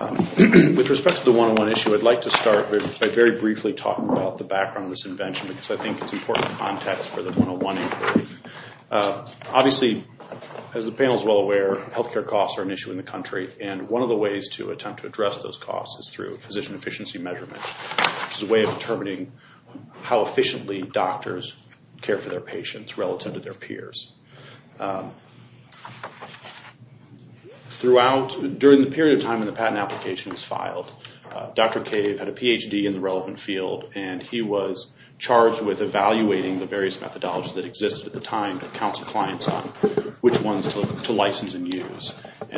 With respect to the 101 issue, I'd like to start by very briefly talking about the background of this invention, because I think it's important context for the 101 inquiry. Obviously, as the panel is well aware, health care costs are an issue in the country, and one of the ways to attempt to address those costs is through physician efficiency measurement, which is a way of determining how efficiently doctors care for their patients relative to their peers. During the period of time when the patent application was filed, Dr. Cave had a Ph.D. in the relevant field, and he was charged with evaluating the various methodologies that existed at the time to counsel clients on which ones to license and use.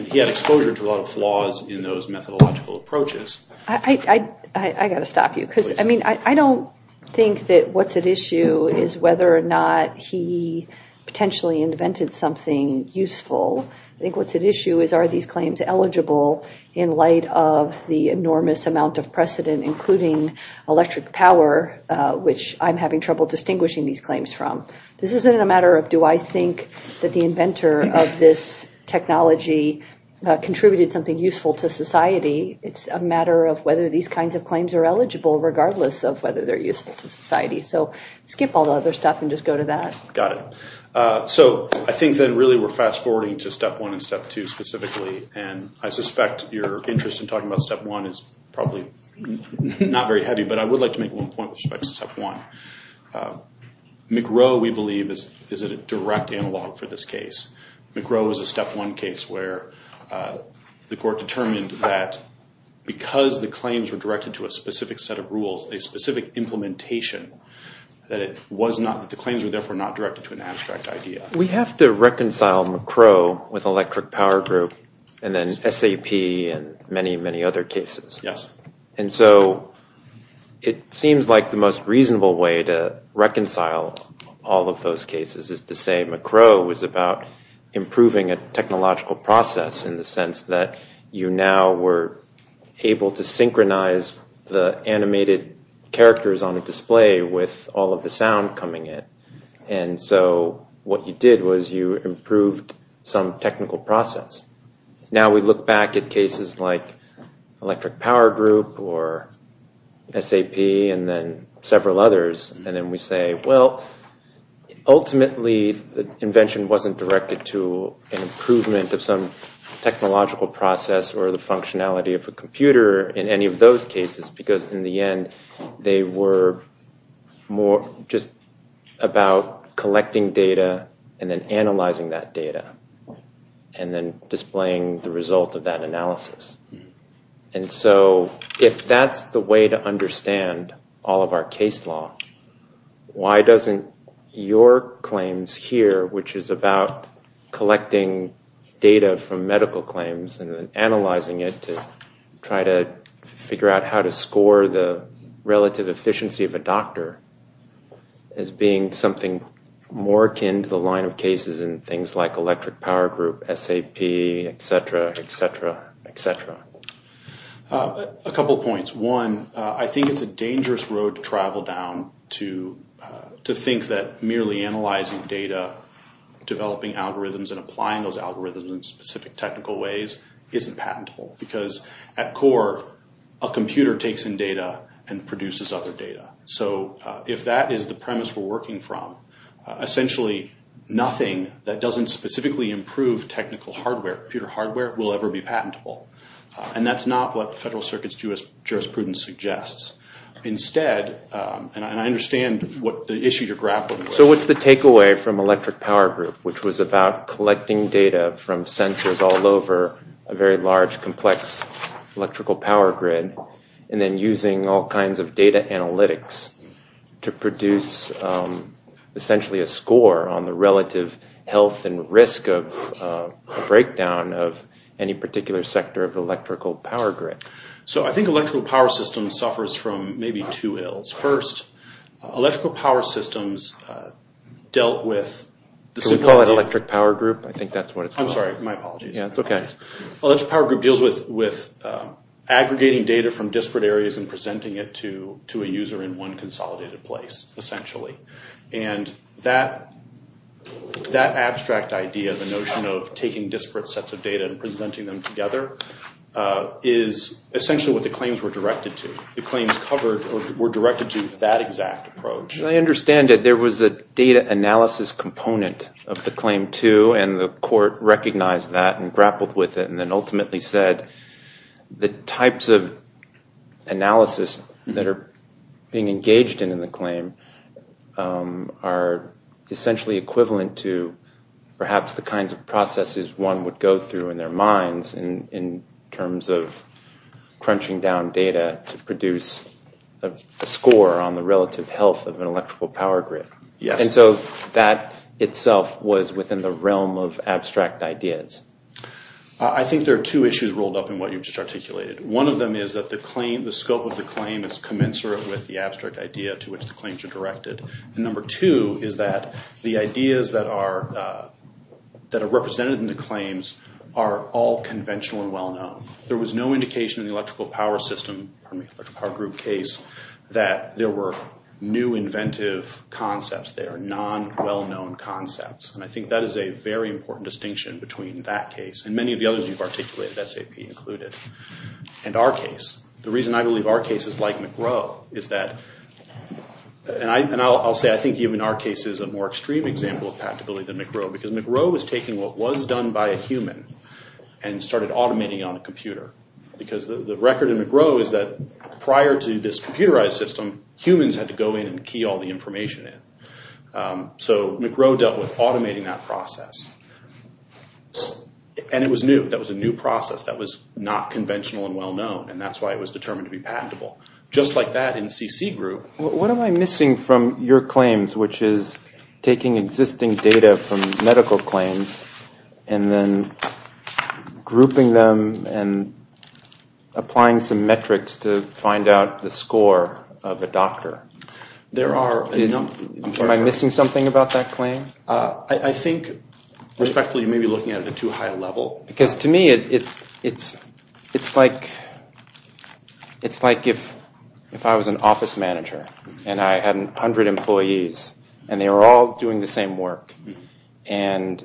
He had exposure to a lot of flaws in those methodological approaches. I've got to stop you. I don't think that what's at issue is whether or not he potentially invented something useful. I think what's at issue is are these claims eligible in light of the enormous amount of precedent, including electric power, which I'm having trouble distinguishing these claims from. This isn't a matter of do I think that the inventor of this technology contributed something useful to society. It's a matter of whether these kinds of claims are eligible regardless of whether they're useful to society. So skip all the other stuff and just go to that. Got it. So I think then really we're fast-forwarding to step one and step two specifically, and I suspect your interest in talking about step one is probably not very heavy, but I would like to make one point with respect to step one. McRow, we believe, is a direct analog for this case. McRow is a step one case where the court determined that because the claims were directed to a specific set of rules, a specific implementation, that the claims were therefore not directed to an abstract idea. We have to reconcile McRow with electric power group and then SAP and many, many other cases. Yes. And so it seems like the most reasonable way to reconcile all of those cases is to say McRow was about improving a technological process in the sense that you now were able to synchronize the animated characters on a display with all of the sound coming in. And so what you did was you improved some technical process. Now we look back at cases like electric power group or SAP and then several others, and then we say, well, ultimately the invention wasn't directed to an improvement of some technological process or the functionality of a computer in any of those cases because in the end they were just about collecting data and then analyzing that data and then displaying the result of that analysis. And so if that's the way to understand all of our case law, why doesn't your claims here, which is about collecting data from medical claims and then analyzing it to try to figure out how to score the relative efficiency of a doctor, as being something more akin to the line of cases in things like electric power group, SAP, et cetera, et cetera, et cetera? A couple of points. One, I think it's a dangerous road to travel down to think that merely analyzing data, developing algorithms and applying those algorithms in specific technical ways isn't patentable because at core a computer takes in data and produces other data. So if that is the premise we're working from, essentially nothing that doesn't specifically improve technical hardware, computer hardware, will ever be patentable. And that's not what the Federal Circuit's jurisprudence suggests. Instead, and I understand the issue you're grappling with. So what's the takeaway from electric power group, which was about collecting data from sensors all over a very large, complex electrical power grid and then using all kinds of data analytics to produce, essentially, a score on the relative health and risk of a breakdown of any particular sector of electrical power grid? So I think electrical power system suffers from maybe two ills. First, electrical power systems dealt with... Can we call it electric power group? I think that's what it's called. I'm sorry. My apologies. Yeah, it's okay. Electrical power group deals with aggregating data from disparate areas and presenting it to a user in one consolidated place, essentially. And that abstract idea, the notion of taking disparate sets of data and presenting them together, is essentially what the claims were directed to. The claims were directed to that exact approach. I understand that there was a data analysis component of the claim, too, and the court recognized that and grappled with it and then ultimately said the types of analysis that are being engaged in the claim are essentially equivalent to perhaps the kinds of processes one would go through in their minds in terms of crunching down data to produce a score on the relative health of an electrical power grid. And so that itself was within the realm of abstract ideas. I think there are two issues rolled up in what you've just articulated. One of them is that the scope of the claim is commensurate with the abstract idea to which the claims are directed. And number two is that the ideas that are represented in the claims are all conventional and well-known. There was no indication in the electrical power system, electrical power group case, that there were new inventive concepts there, non-well-known concepts. And I think that is a very important distinction between that case, and many of the others you've articulated, SAP included, and our case. The reason I believe our case is like McGraw is that, and I'll say I think even our case is a more extreme example of compatibility than McGraw, because McGraw was taking what was done by a human and started automating it on a computer. Because the record in McGraw is that prior to this computerized system, humans had to go in and key all the information in. So McGraw dealt with automating that process. And it was new. That was a new process that was not conventional and well-known. And that's why it was determined to be patentable. Just like that in CC group. What am I missing from your claims, which is taking existing data from medical claims and then grouping them and applying some metrics to find out the score of a doctor? There are a number. Am I missing something about that claim? I think, respectfully, you may be looking at it at too high a level. Because to me, it's like if I was an office manager and I had 100 employees, and they were all doing the same work. And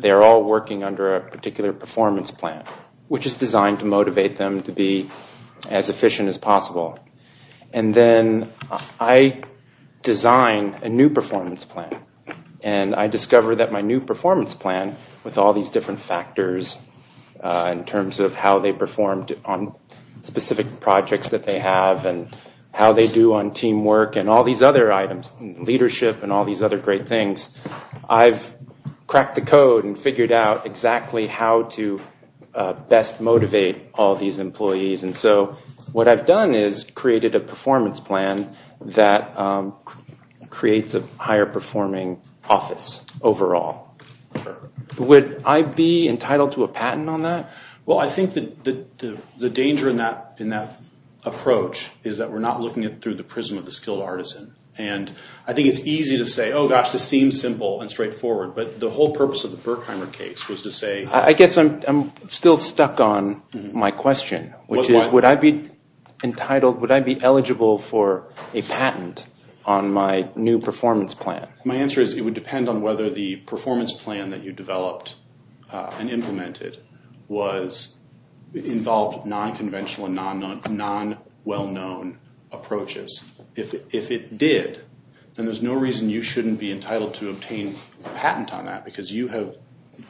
they're all working under a particular performance plan, which is designed to motivate them to be as efficient as possible. And then I design a new performance plan. And I discover that my new performance plan, with all these different factors, in terms of how they performed on specific projects that they have and how they do on teamwork and all these other items, leadership and all these other great things, I've cracked the code and figured out exactly how to best motivate all these employees. And so what I've done is created a performance plan that creates a higher-performing office overall. Would I be entitled to a patent on that? Well, I think the danger in that approach is that we're not looking through the prism of the skilled artisan. And I think it's easy to say, oh, gosh, this seems simple and straightforward. But the whole purpose of the Berkheimer case was to say- I guess I'm still stuck on my question, which is would I be entitled, would I be eligible for a patent on my new performance plan? My answer is it would depend on whether the performance plan that you developed and implemented involved non-conventional and non-well-known approaches. If it did, then there's no reason you shouldn't be entitled to obtain a patent on that because you have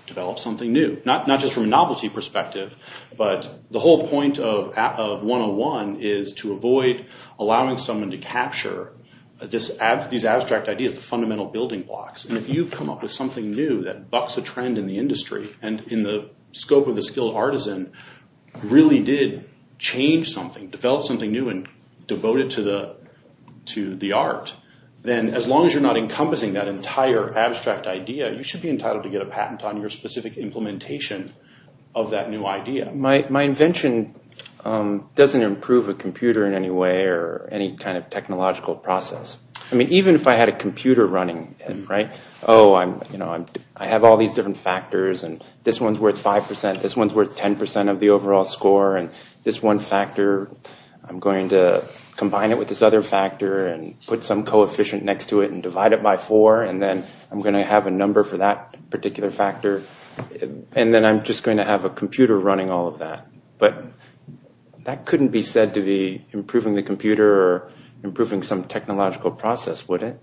developed something new, not just from a novelty perspective, but the whole point of 101 is to avoid allowing someone to capture these abstract ideas, the fundamental building blocks. And if you've come up with something new that bucks a trend in the industry and in the scope of the skilled artisan really did change something, developed something new and devoted to the art, then as long as you're not encompassing that entire abstract idea, you should be entitled to get a patent on your specific implementation of that new idea. My invention doesn't improve a computer in any way or any kind of technological process. I mean, even if I had a computer running, right, oh, I have all these different factors and this one's worth 5%, this one's worth 10% of the overall score, and this one factor, I'm going to combine it with this other factor and put some coefficient next to it and divide it by 4, and then I'm going to have a number for that particular factor, and then I'm just going to have a computer running all of that. But that couldn't be said to be improving the computer or improving some technological process, would it?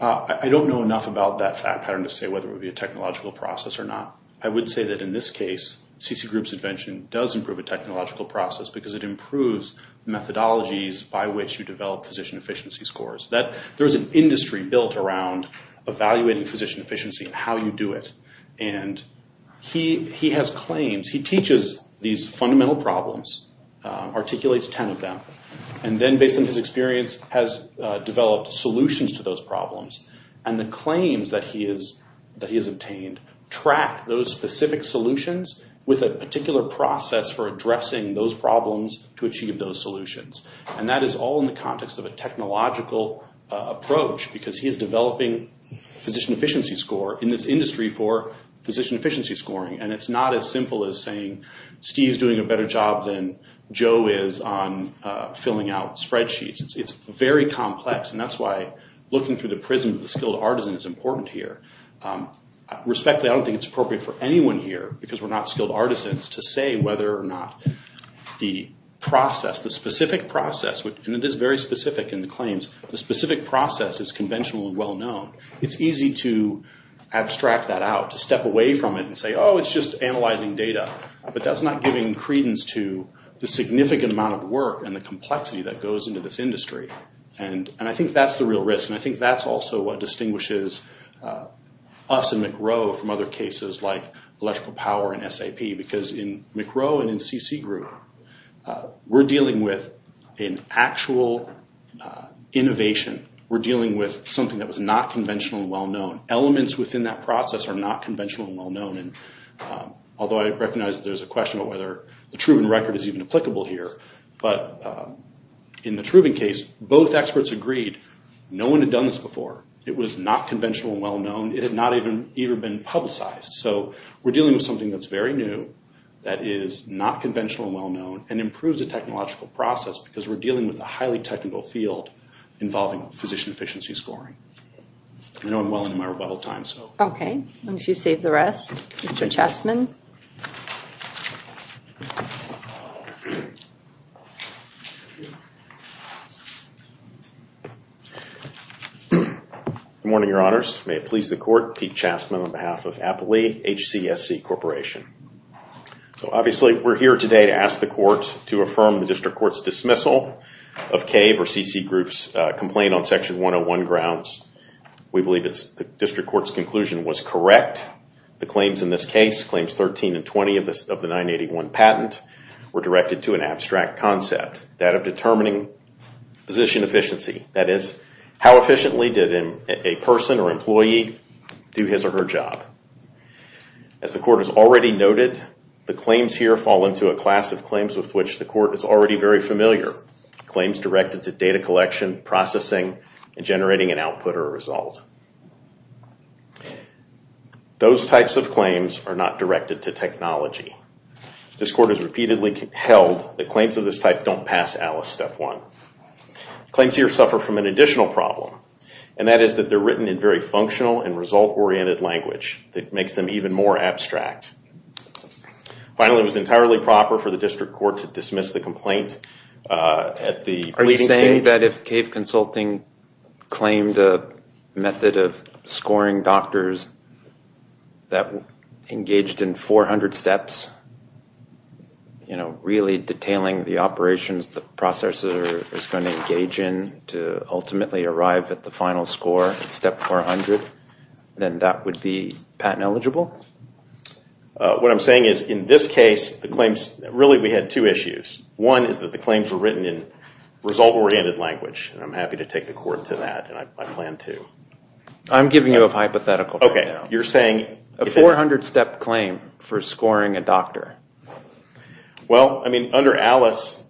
I don't know enough about that fact pattern to say whether it would be a technological process or not. I would say that in this case, C.C. Group's invention does improve a technological process because it improves methodologies by which you develop physician efficiency scores. There's an industry built around evaluating physician efficiency and how you do it, and he has claims. He teaches these fundamental problems, articulates 10 of them, and then based on his experience has developed solutions to those problems, and the claims that he has obtained track those specific solutions with a particular process for addressing those problems to achieve those solutions, and that is all in the context of a technological approach because he is developing physician efficiency score in this industry for physician efficiency scoring, and it's not as simple as saying Steve's doing a better job than Joe is on filling out spreadsheets. It's very complex, and that's why looking through the prism of the skilled artisan is important here. Respectfully, I don't think it's appropriate for anyone here, because we're not skilled artisans, to say whether or not the process, the specific process, and it is very specific in the claims, the specific process is conventional and well known. It's easy to abstract that out, to step away from it and say, oh, it's just analyzing data, but that's not giving credence to the significant amount of work and the complexity that goes into this industry, and I think that's the real risk, and I think that's also what distinguishes us and McRow from other cases like electrical power and SAP, because in McRow and in CC Group, we're dealing with an actual innovation. We're dealing with something that was not conventional and well known. Elements within that process are not conventional and well known, and although I recognize there's a question about whether the Truven record is even applicable here, but in the Truven case, both experts agreed no one had done this before. It was not conventional and well known. It had not even been publicized, so we're dealing with something that's very new, that is not conventional and well known, and improves the technological process, because we're dealing with a highly technical field involving physician efficiency scoring. I know I'm well into my rebuttal time. Okay. Why don't you save the rest, Mr. Chassman? Good morning, Your Honors. May it please the court, Pete Chassman on behalf of Appley HCSC Corporation. Obviously, we're here today to ask the court to affirm the district court's dismissal of CAVE or CC Group's complaint on Section 101 grounds. We believe the district court's conclusion was correct. The claims in this case, claims 13 and 20 of the 981 patent, were directed to an abstract concept, that of determining physician efficiency. That is, how efficiently did a person or employee do his or her job? As the court has already noted, the claims here fall into a class of claims with which the court is already very familiar, claims directed to data collection, processing, and generating an output or a result. Those types of claims are not directed to technology. This court has repeatedly held that claims of this type don't pass ALICE Step 1. Claims here suffer from an additional problem, and that is that they're written in very functional and result-oriented language that makes them even more abstract. Finally, it was entirely proper for the district court to dismiss the complaint at the pleading stage. Are you saying that if CAVE Consulting claimed a method of scoring doctors that engaged in 400 steps, you know, really detailing the operations the processor is going to engage in to ultimately arrive at the final score, Step 400, then that would be patent eligible? What I'm saying is, in this case, really we had two issues. One is that the claims were written in result-oriented language, and I'm happy to take the court to that, and I plan to. I'm giving you a hypothetical right now. Okay, you're saying... A 400-step claim for scoring a doctor. Well, I mean, under ALICE,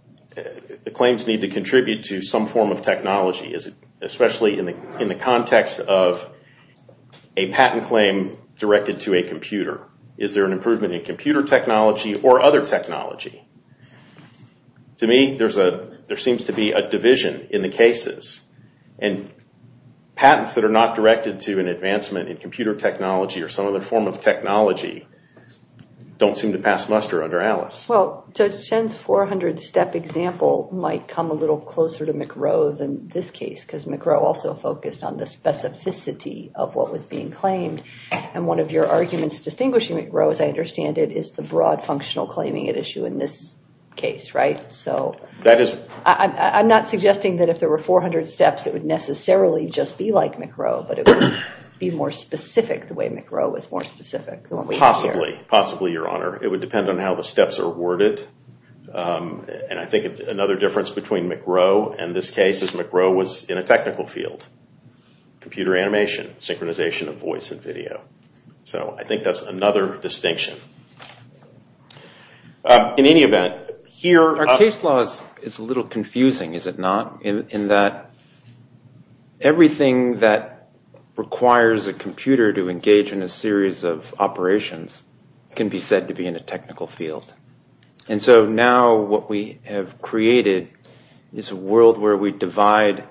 the claims need to contribute to some form of technology, especially in the context of a patent claim directed to a computer. Is there an improvement in computer technology or other technology? To me, there seems to be a division in the cases, and patents that are not directed to an advancement in computer technology or some other form of technology don't seem to pass muster under ALICE. Well, Judge Shen's 400-step example might come a little closer to McGrow than this case because McGrow also focused on the specificity of what was being claimed, and one of your arguments distinguishing McGrow, as I understand it, is the broad functional claiming at issue in this case, right? So I'm not suggesting that if there were 400 steps, it would necessarily just be like McGrow, but it would be more specific the way McGrow was more specific. Possibly, possibly, Your Honor. It would depend on how the steps are worded, and I think another difference between McGrow and this case is McGrow was in a technical field, computer animation, synchronization of voice and video. So I think that's another distinction. In any event, here— Our case law is a little confusing, is it not, in that everything that requires a computer to engage in a series of operations can be said to be in a technical field. And so now what we have created is a world where we divide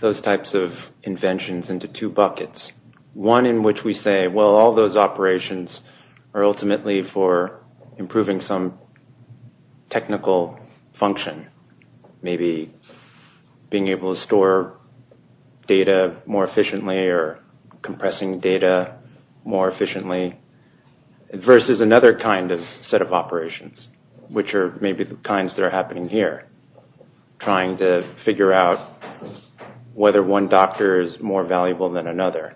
those types of inventions into two buckets, one in which we say, well, all those operations are ultimately for improving some technical function, maybe being able to store data more efficiently or compressing data more efficiently, versus another kind of set of operations, which are maybe the kinds that are happening here, trying to figure out whether one doctor is more valuable than another,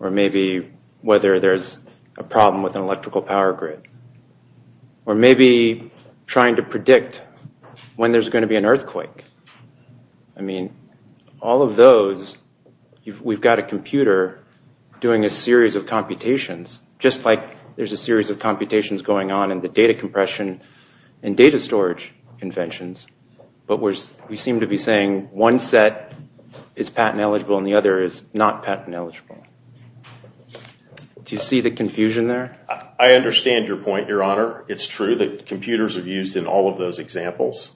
or maybe whether there's a problem with an electrical power grid, or maybe trying to predict when there's going to be an earthquake. I mean, all of those, we've got a computer doing a series of computations, just like there's a series of computations going on in the data compression and data storage conventions, but we seem to be saying one set is patent-eligible and the other is not patent-eligible. Do you see the confusion there? I understand your point, Your Honor. It's true that computers are used in all of those examples.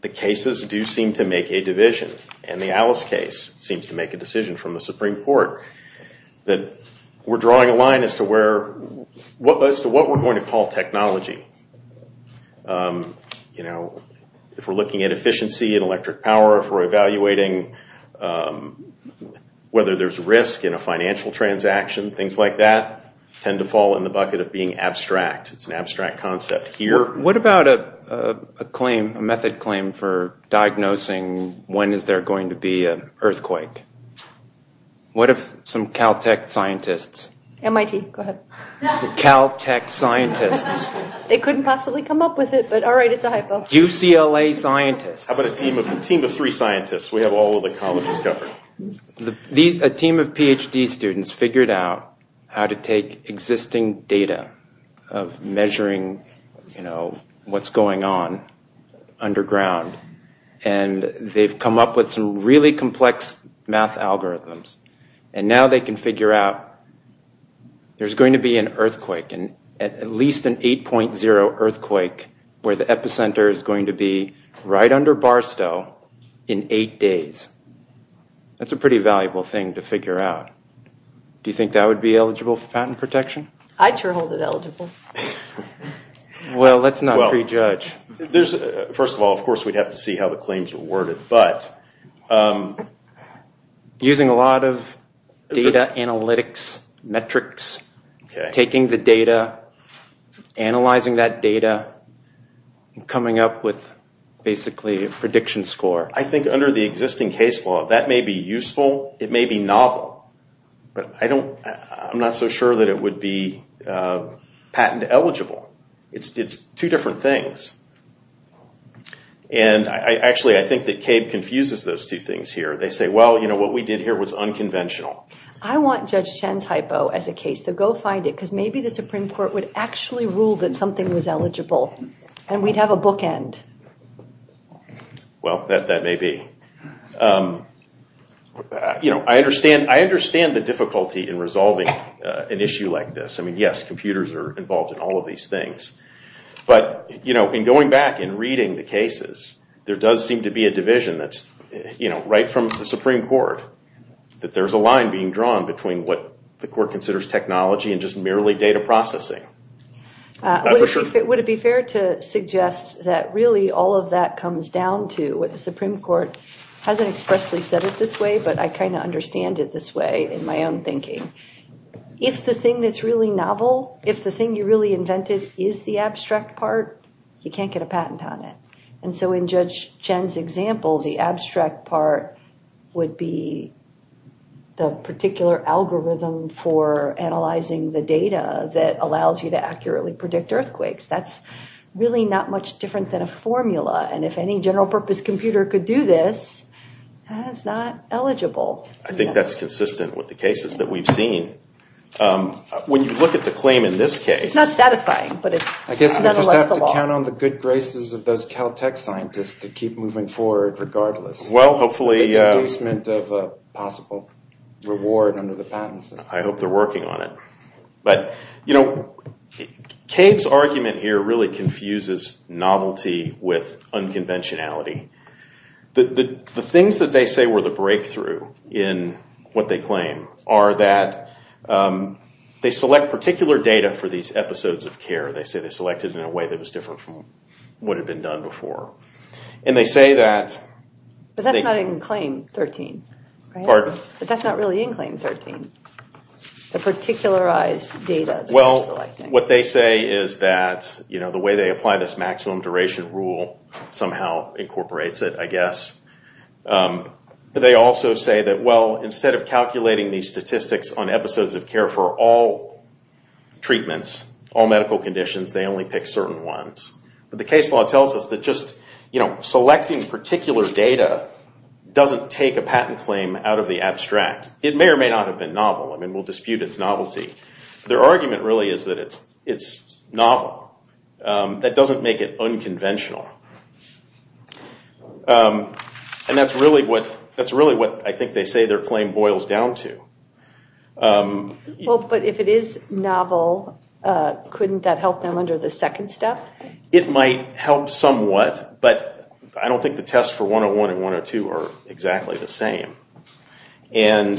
The cases do seem to make a division, and the Alice case seems to make a decision from the Supreme Court that we're drawing a line as to what we're going to call technology. If we're looking at efficiency in electric power, if we're evaluating whether there's risk in a financial transaction, things like that tend to fall in the bucket of being abstract. It's an abstract concept here. What about a claim, a method claim, for diagnosing when is there going to be an earthquake? What if some Caltech scientists... MIT, go ahead. Caltech scientists. They couldn't possibly come up with it, but all right, it's a high five. UCLA scientists. How about a team of three scientists? We have all of the colleges covered. A team of Ph.D. students figured out how to take existing data of measuring what's going on underground, and they've come up with some really complex math algorithms, and now they can figure out there's going to be an earthquake, at least an 8.0 earthquake where the epicenter is going to be right under Barstow in eight days. That's a pretty valuable thing to figure out. Do you think that would be eligible for patent protection? I'd sure hold it eligible. Well, let's not prejudge. First of all, of course, we'd have to see how the claims were worded, but... Using a lot of data analytics metrics, taking the data, analyzing that data, and coming up with basically a prediction score. I think under the existing case law, that may be useful. It may be novel, but I'm not so sure that it would be patent eligible. It's two different things. Actually, I think that CABE confuses those two things here. They say, well, what we did here was unconventional. I want Judge Chen's hypo as a case, so go find it, because maybe the Supreme Court would actually rule that something was eligible, and we'd have a bookend. Well, that may be. I understand the difficulty in resolving an issue like this. I mean, yes, computers are involved in all of these things, but in going back and reading the cases, there does seem to be a division that's right from the Supreme Court, that there's a line being drawn between what the court considers technology and just merely data processing. Would it be fair to suggest that really all of that comes down to what the Supreme Court hasn't expressly said it this way, but I kind of understand it this way in my own thinking. If the thing that's really novel, if the thing you really invented is the abstract part, you can't get a patent on it. And so in Judge Chen's example, the abstract part would be the particular algorithm for analyzing the data that allows you to accurately predict earthquakes. That's really not much different than a formula, and if any general purpose computer could do this, that's not eligible. I think that's consistent with the cases that we've seen. When you look at the claim in this case. It's not satisfying, but it's nonetheless the law. You can count on the good graces of those Caltech scientists to keep moving forward regardless. Well, hopefully. The inducement of a possible reward under the patent system. I hope they're working on it. But Cave's argument here really confuses novelty with unconventionality. The things that they say were the breakthrough in what they claim are that they select particular data for these episodes of care. They say they select it in a way that was different from what had been done before. And they say that... But that's not in Claim 13. Pardon? But that's not really in Claim 13. The particularized data that they're selecting. Well, what they say is that the way they apply this maximum duration rule somehow incorporates it, I guess. They also say that, well, instead of calculating these statistics on episodes of care for all treatments, all medical conditions, they only pick certain ones. But the case law tells us that just selecting particular data doesn't take a patent claim out of the abstract. It may or may not have been novel. I mean, we'll dispute its novelty. Their argument really is that it's novel. That doesn't make it unconventional. And that's really what I think they say their claim boils down to. Well, but if it is novel, couldn't that help them under the second step? It might help somewhat. But I don't think the test for 101 and 102 are exactly the same. And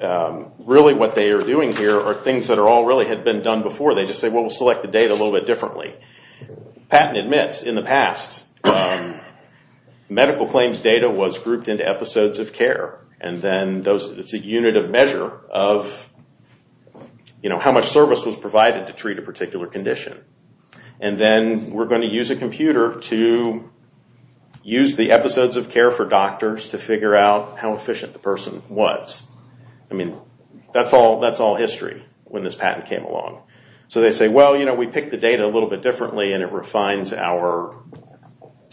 really what they are doing here are things that all really had been done before. They just say, well, we'll select the data a little bit differently. Patent admits in the past medical claims data was grouped into episodes of care. And then it's a unit of measure of how much service was provided to treat a particular condition. And then we're going to use a computer to use the episodes of care for doctors to figure out how efficient the person was. I mean, that's all history when this patent came along. So they say, well, you know, we picked the data a little bit differently, and it refines our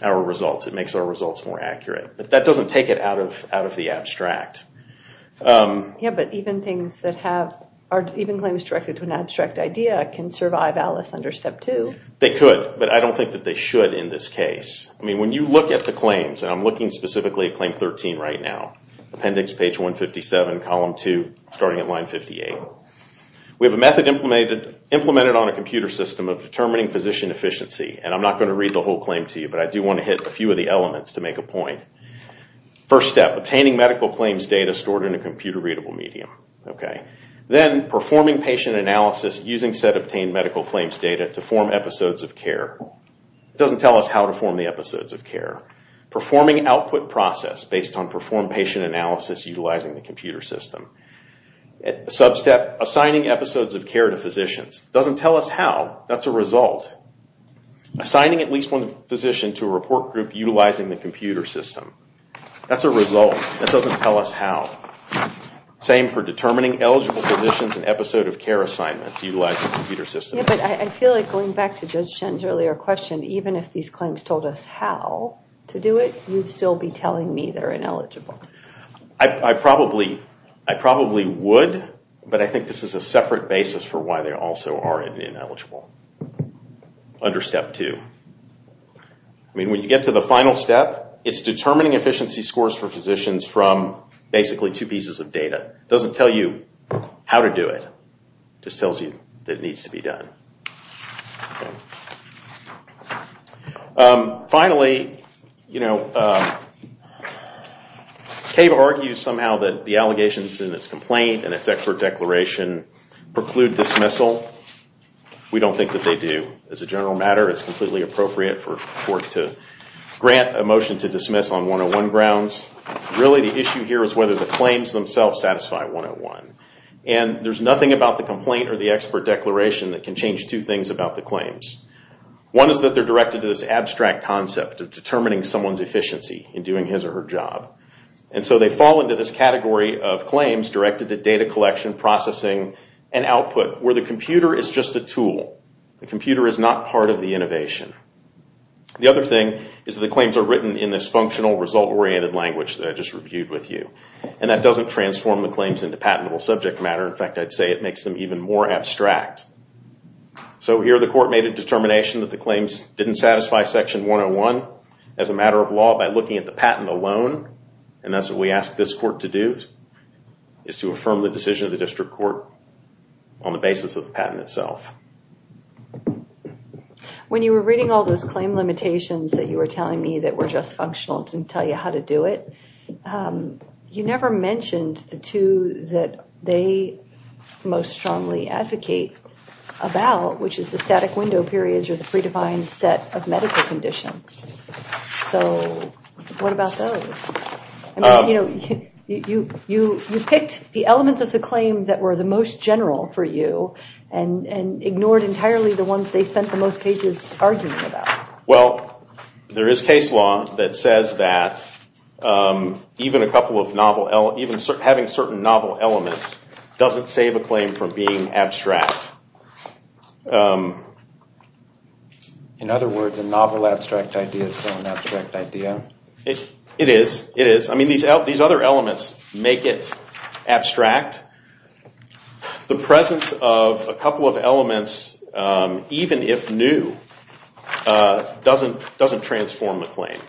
results. It makes our results more accurate. But that doesn't take it out of the abstract. Yeah, but even claims directed to an abstract idea can survive Alice under step two. They could, but I don't think that they should in this case. I mean, when you look at the claims, and I'm looking specifically at claim 13 right now, appendix page 157, column 2, starting at line 58, we have a method implemented on a computer system of determining physician efficiency. And I'm not going to read the whole claim to you, but I do want to hit a few of the elements to make a point. First step, obtaining medical claims data stored in a computer-readable medium. Then performing patient analysis using said obtained medical claims data to form episodes of care. It doesn't tell us how to form the episodes of care. Performing output process based on performed patient analysis utilizing the computer system. Sub-step, assigning episodes of care to physicians. Doesn't tell us how. That's a result. Assigning at least one physician to a report group utilizing the computer system. That's a result. That doesn't tell us how. Same for determining eligible physicians and episode of care assignments utilizing the computer system. Yeah, but I feel like going back to Judge Shen's earlier question, even if these claims told us how to do it, you'd still be telling me they're ineligible. I probably would, but I think this is a separate basis for why they also are ineligible. Under step two. I mean, when you get to the final step, it's determining efficiency scores for physicians from basically two pieces of data. It doesn't tell you how to do it. It just tells you that it needs to be done. Finally, CAVE argues somehow that the allegations in its complaint and its expert declaration preclude dismissal. We don't think that they do. As a general matter, it's completely appropriate for court to grant a motion to dismiss on 101 grounds. Really, the issue here is whether the claims themselves satisfy 101. And there's nothing about the complaint or the expert declaration that can change that. They can change two things about the claims. One is that they're directed to this abstract concept of determining someone's efficiency in doing his or her job. And so they fall into this category of claims directed to data collection, processing, and output, where the computer is just a tool. The computer is not part of the innovation. The other thing is that the claims are written in this functional, result-oriented language that I just reviewed with you. And that doesn't transform the claims into patentable subject matter. In fact, I'd say it makes them even more abstract. So here the court made a determination that the claims didn't satisfy Section 101. As a matter of law, by looking at the patent alone, and that's what we ask this court to do, is to affirm the decision of the district court on the basis of the patent itself. When you were reading all those claim limitations that you were telling me that were just functional and didn't tell you how to do it, you never mentioned the two that they most strongly advocate about, which is the static window periods or the predefined set of medical conditions. So what about those? You picked the elements of the claim that were the most general for you and ignored entirely the ones they spent the most pages arguing about. Well, there is case law that says that even having certain novel elements doesn't save a claim from being abstract. In other words, a novel abstract idea is still an abstract idea? It is. It is. In fact, the presence of a couple of elements, even if new, doesn't transform the claim.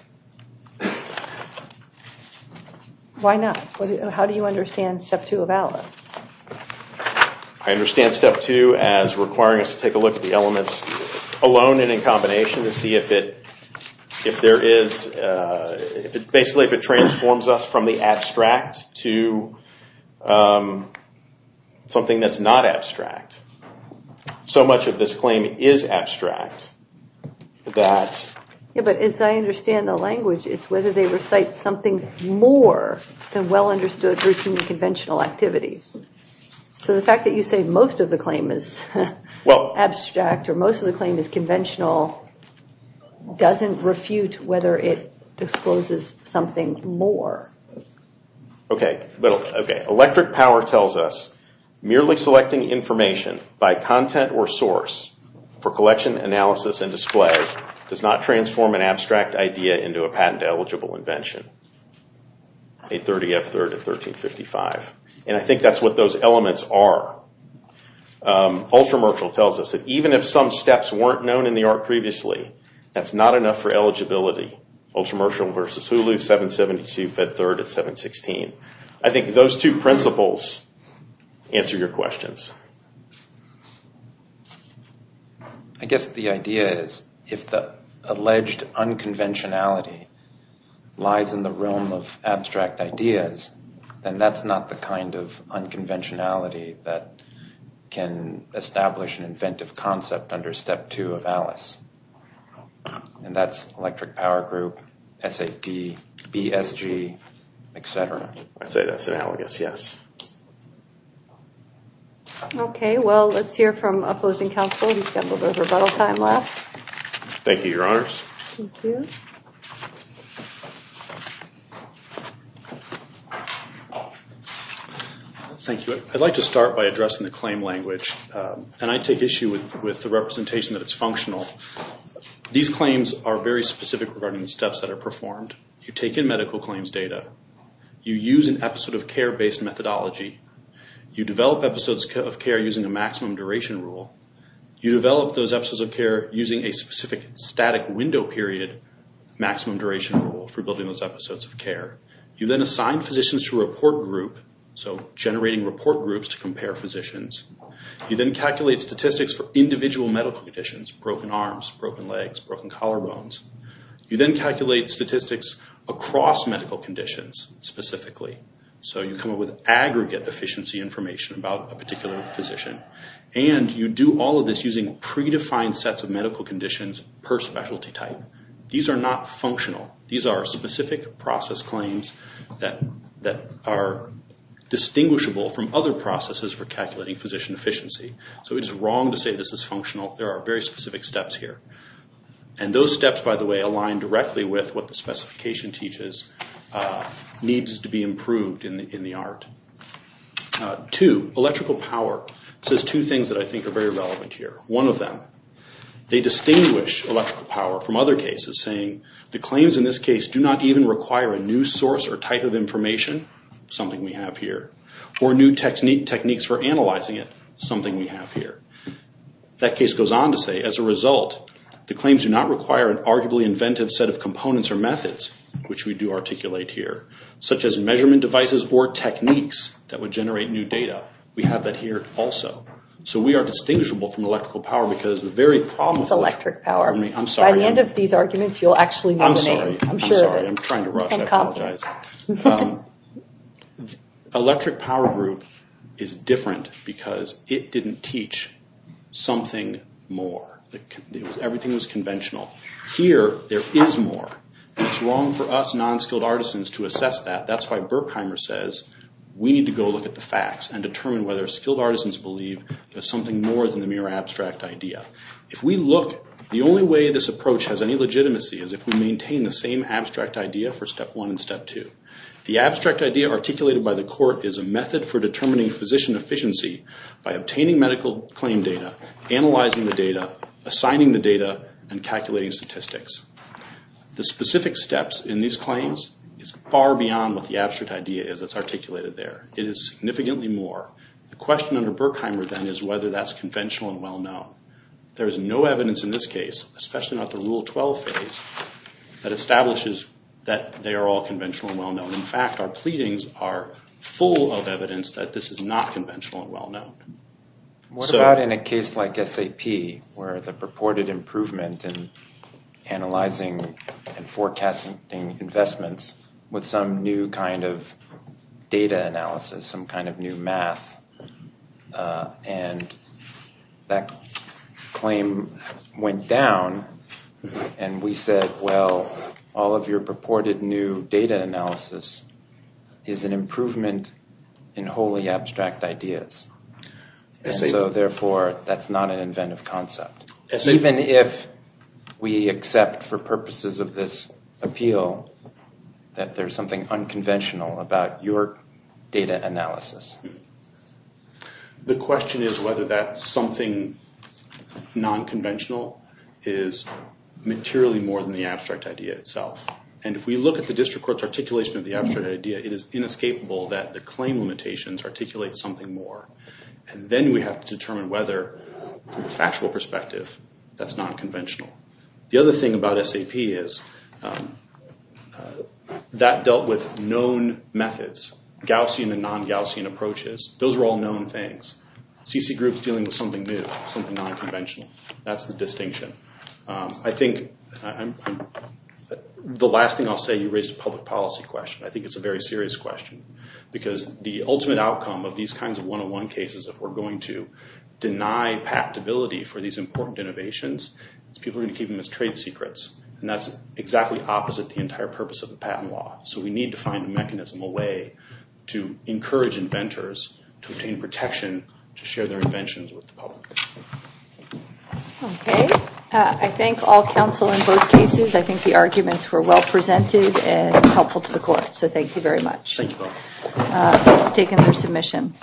Why not? How do you understand Step 2 of ALICE? I understand Step 2 as requiring us to take a look at the elements alone and in combination to see if it transforms us from the abstract to something that's not abstract. So much of this claim is abstract. But as I understand the language, it's whether they recite something more than well-understood, routinely conventional activities. So the fact that you say most of the claim is abstract or most of the claim is conventional doesn't refute whether it discloses something more. Electric power tells us, merely selecting information by content or source for collection, analysis, and display does not transform an abstract idea into a patent-eligible invention. And I think that's what those elements are. Ultramercial tells us that even if some steps weren't known in the art previously, that's not enough for eligibility. Ultramercial versus Hulu, 772, Fed Third at 716. I think those two principles answer your questions. I guess the idea is if the alleged unconventionality lies in the realm of abstract ideas, then that's not the kind of unconventionality that can establish an inventive concept under Step 2 of Alice. And that's electric power group, SAD, BSG, etc. I'd say that's analogous, yes. Okay, well, let's hear from opposing counsel. We've got a little bit of rebuttal time left. Thank you, Your Honors. Thank you. Thank you. I'd like to start by addressing the claim language, and I take issue with the representation that it's functional. These claims are very specific regarding the steps that are performed. You take in medical claims data. You use an episode-of-care-based methodology. You develop episodes of care using a maximum duration rule. You develop those episodes of care using a specific static window period maximum duration rule for building those episodes of care. You then assign physicians to a report group, so generating report groups to compare physicians. You then calculate statistics for individual medical conditions, broken arms, broken legs, broken collarbones. You then calculate statistics across medical conditions specifically. So you come up with aggregate efficiency information about a particular physician. And you do all of this using predefined sets of medical conditions per specialty type. These are not functional. These are specific process claims that are distinguishable from other processes for calculating physician efficiency. So it's wrong to say this is functional. There are very specific steps here. And those steps, by the way, align directly with what the specification teaches needs to be improved in the art. Two, electrical power. It says two things that I think are very relevant here. One of them, they distinguish electrical power from other cases, saying the claims in this case do not even require a new source or type of information, something we have here, or new techniques for analyzing it, something we have here. That case goes on to say, as a result, the claims do not require an arguably inventive set of components or methods, which we do articulate here, such as measurement devices or techniques that would generate new data. We have that here also. So we are distinguishable from electrical power because the very problem with it I'm sorry. I'm sorry. I'm trying to rush. I apologize. Electric power group is different because it didn't teach something more. Everything was conventional. Here, there is more. It's wrong for us non-skilled artisans to assess that. That's why Berkheimer says we need to go look at the facts and determine whether skilled artisans believe there's something more than the mere abstract idea. If we look, the only way this approach has any legitimacy is if we maintain the same abstract idea for step one and step two. The abstract idea articulated by the court is a method for determining physician efficiency by obtaining medical claim data, analyzing the data, assigning the data, and calculating statistics. The specific steps in these claims is far beyond what the abstract idea is that's articulated there. It is significantly more. The question under Berkheimer then is whether that's conventional and well-known. There is no evidence in this case, especially not the Rule 12 phase, that establishes that they are all conventional and well-known. In fact, our pleadings are full of evidence that this is not conventional and well-known. What about in a case like SAP where the purported improvement in analyzing and forecasting investments with some new kind of data analysis, some kind of new math, and that claim went down, and we said, well, all of your purported new data analysis is an improvement in wholly abstract ideas. And so, therefore, that's not an inventive concept. Even if we accept for purposes of this appeal that there's something unconventional about your data analysis. The question is whether that something nonconventional is materially more than the abstract idea itself. And if we look at the district court's articulation of the abstract idea, it is inescapable that the claim limitations articulate something more. And then we have to determine whether, from a factual perspective, that's nonconventional. The other thing about SAP is that dealt with known methods, Gaussian and non-Gaussian approaches. Those are all known things. CC groups dealing with something new, something nonconventional. That's the distinction. I think the last thing I'll say, you raised a public policy question. I think it's a very serious question because the ultimate outcome of these kinds of one-on-one cases, if we're going to deny patentability for these important innovations, is people are going to keep them as trade secrets. And that's exactly opposite the entire purpose of the patent law. So we need to find a mechanism, a way to encourage inventors to obtain protection to share their inventions with the public. Okay. I thank all counsel in both cases. I think the arguments were well presented and helpful to the court. So thank you very much. Thank you both. This has taken their submission.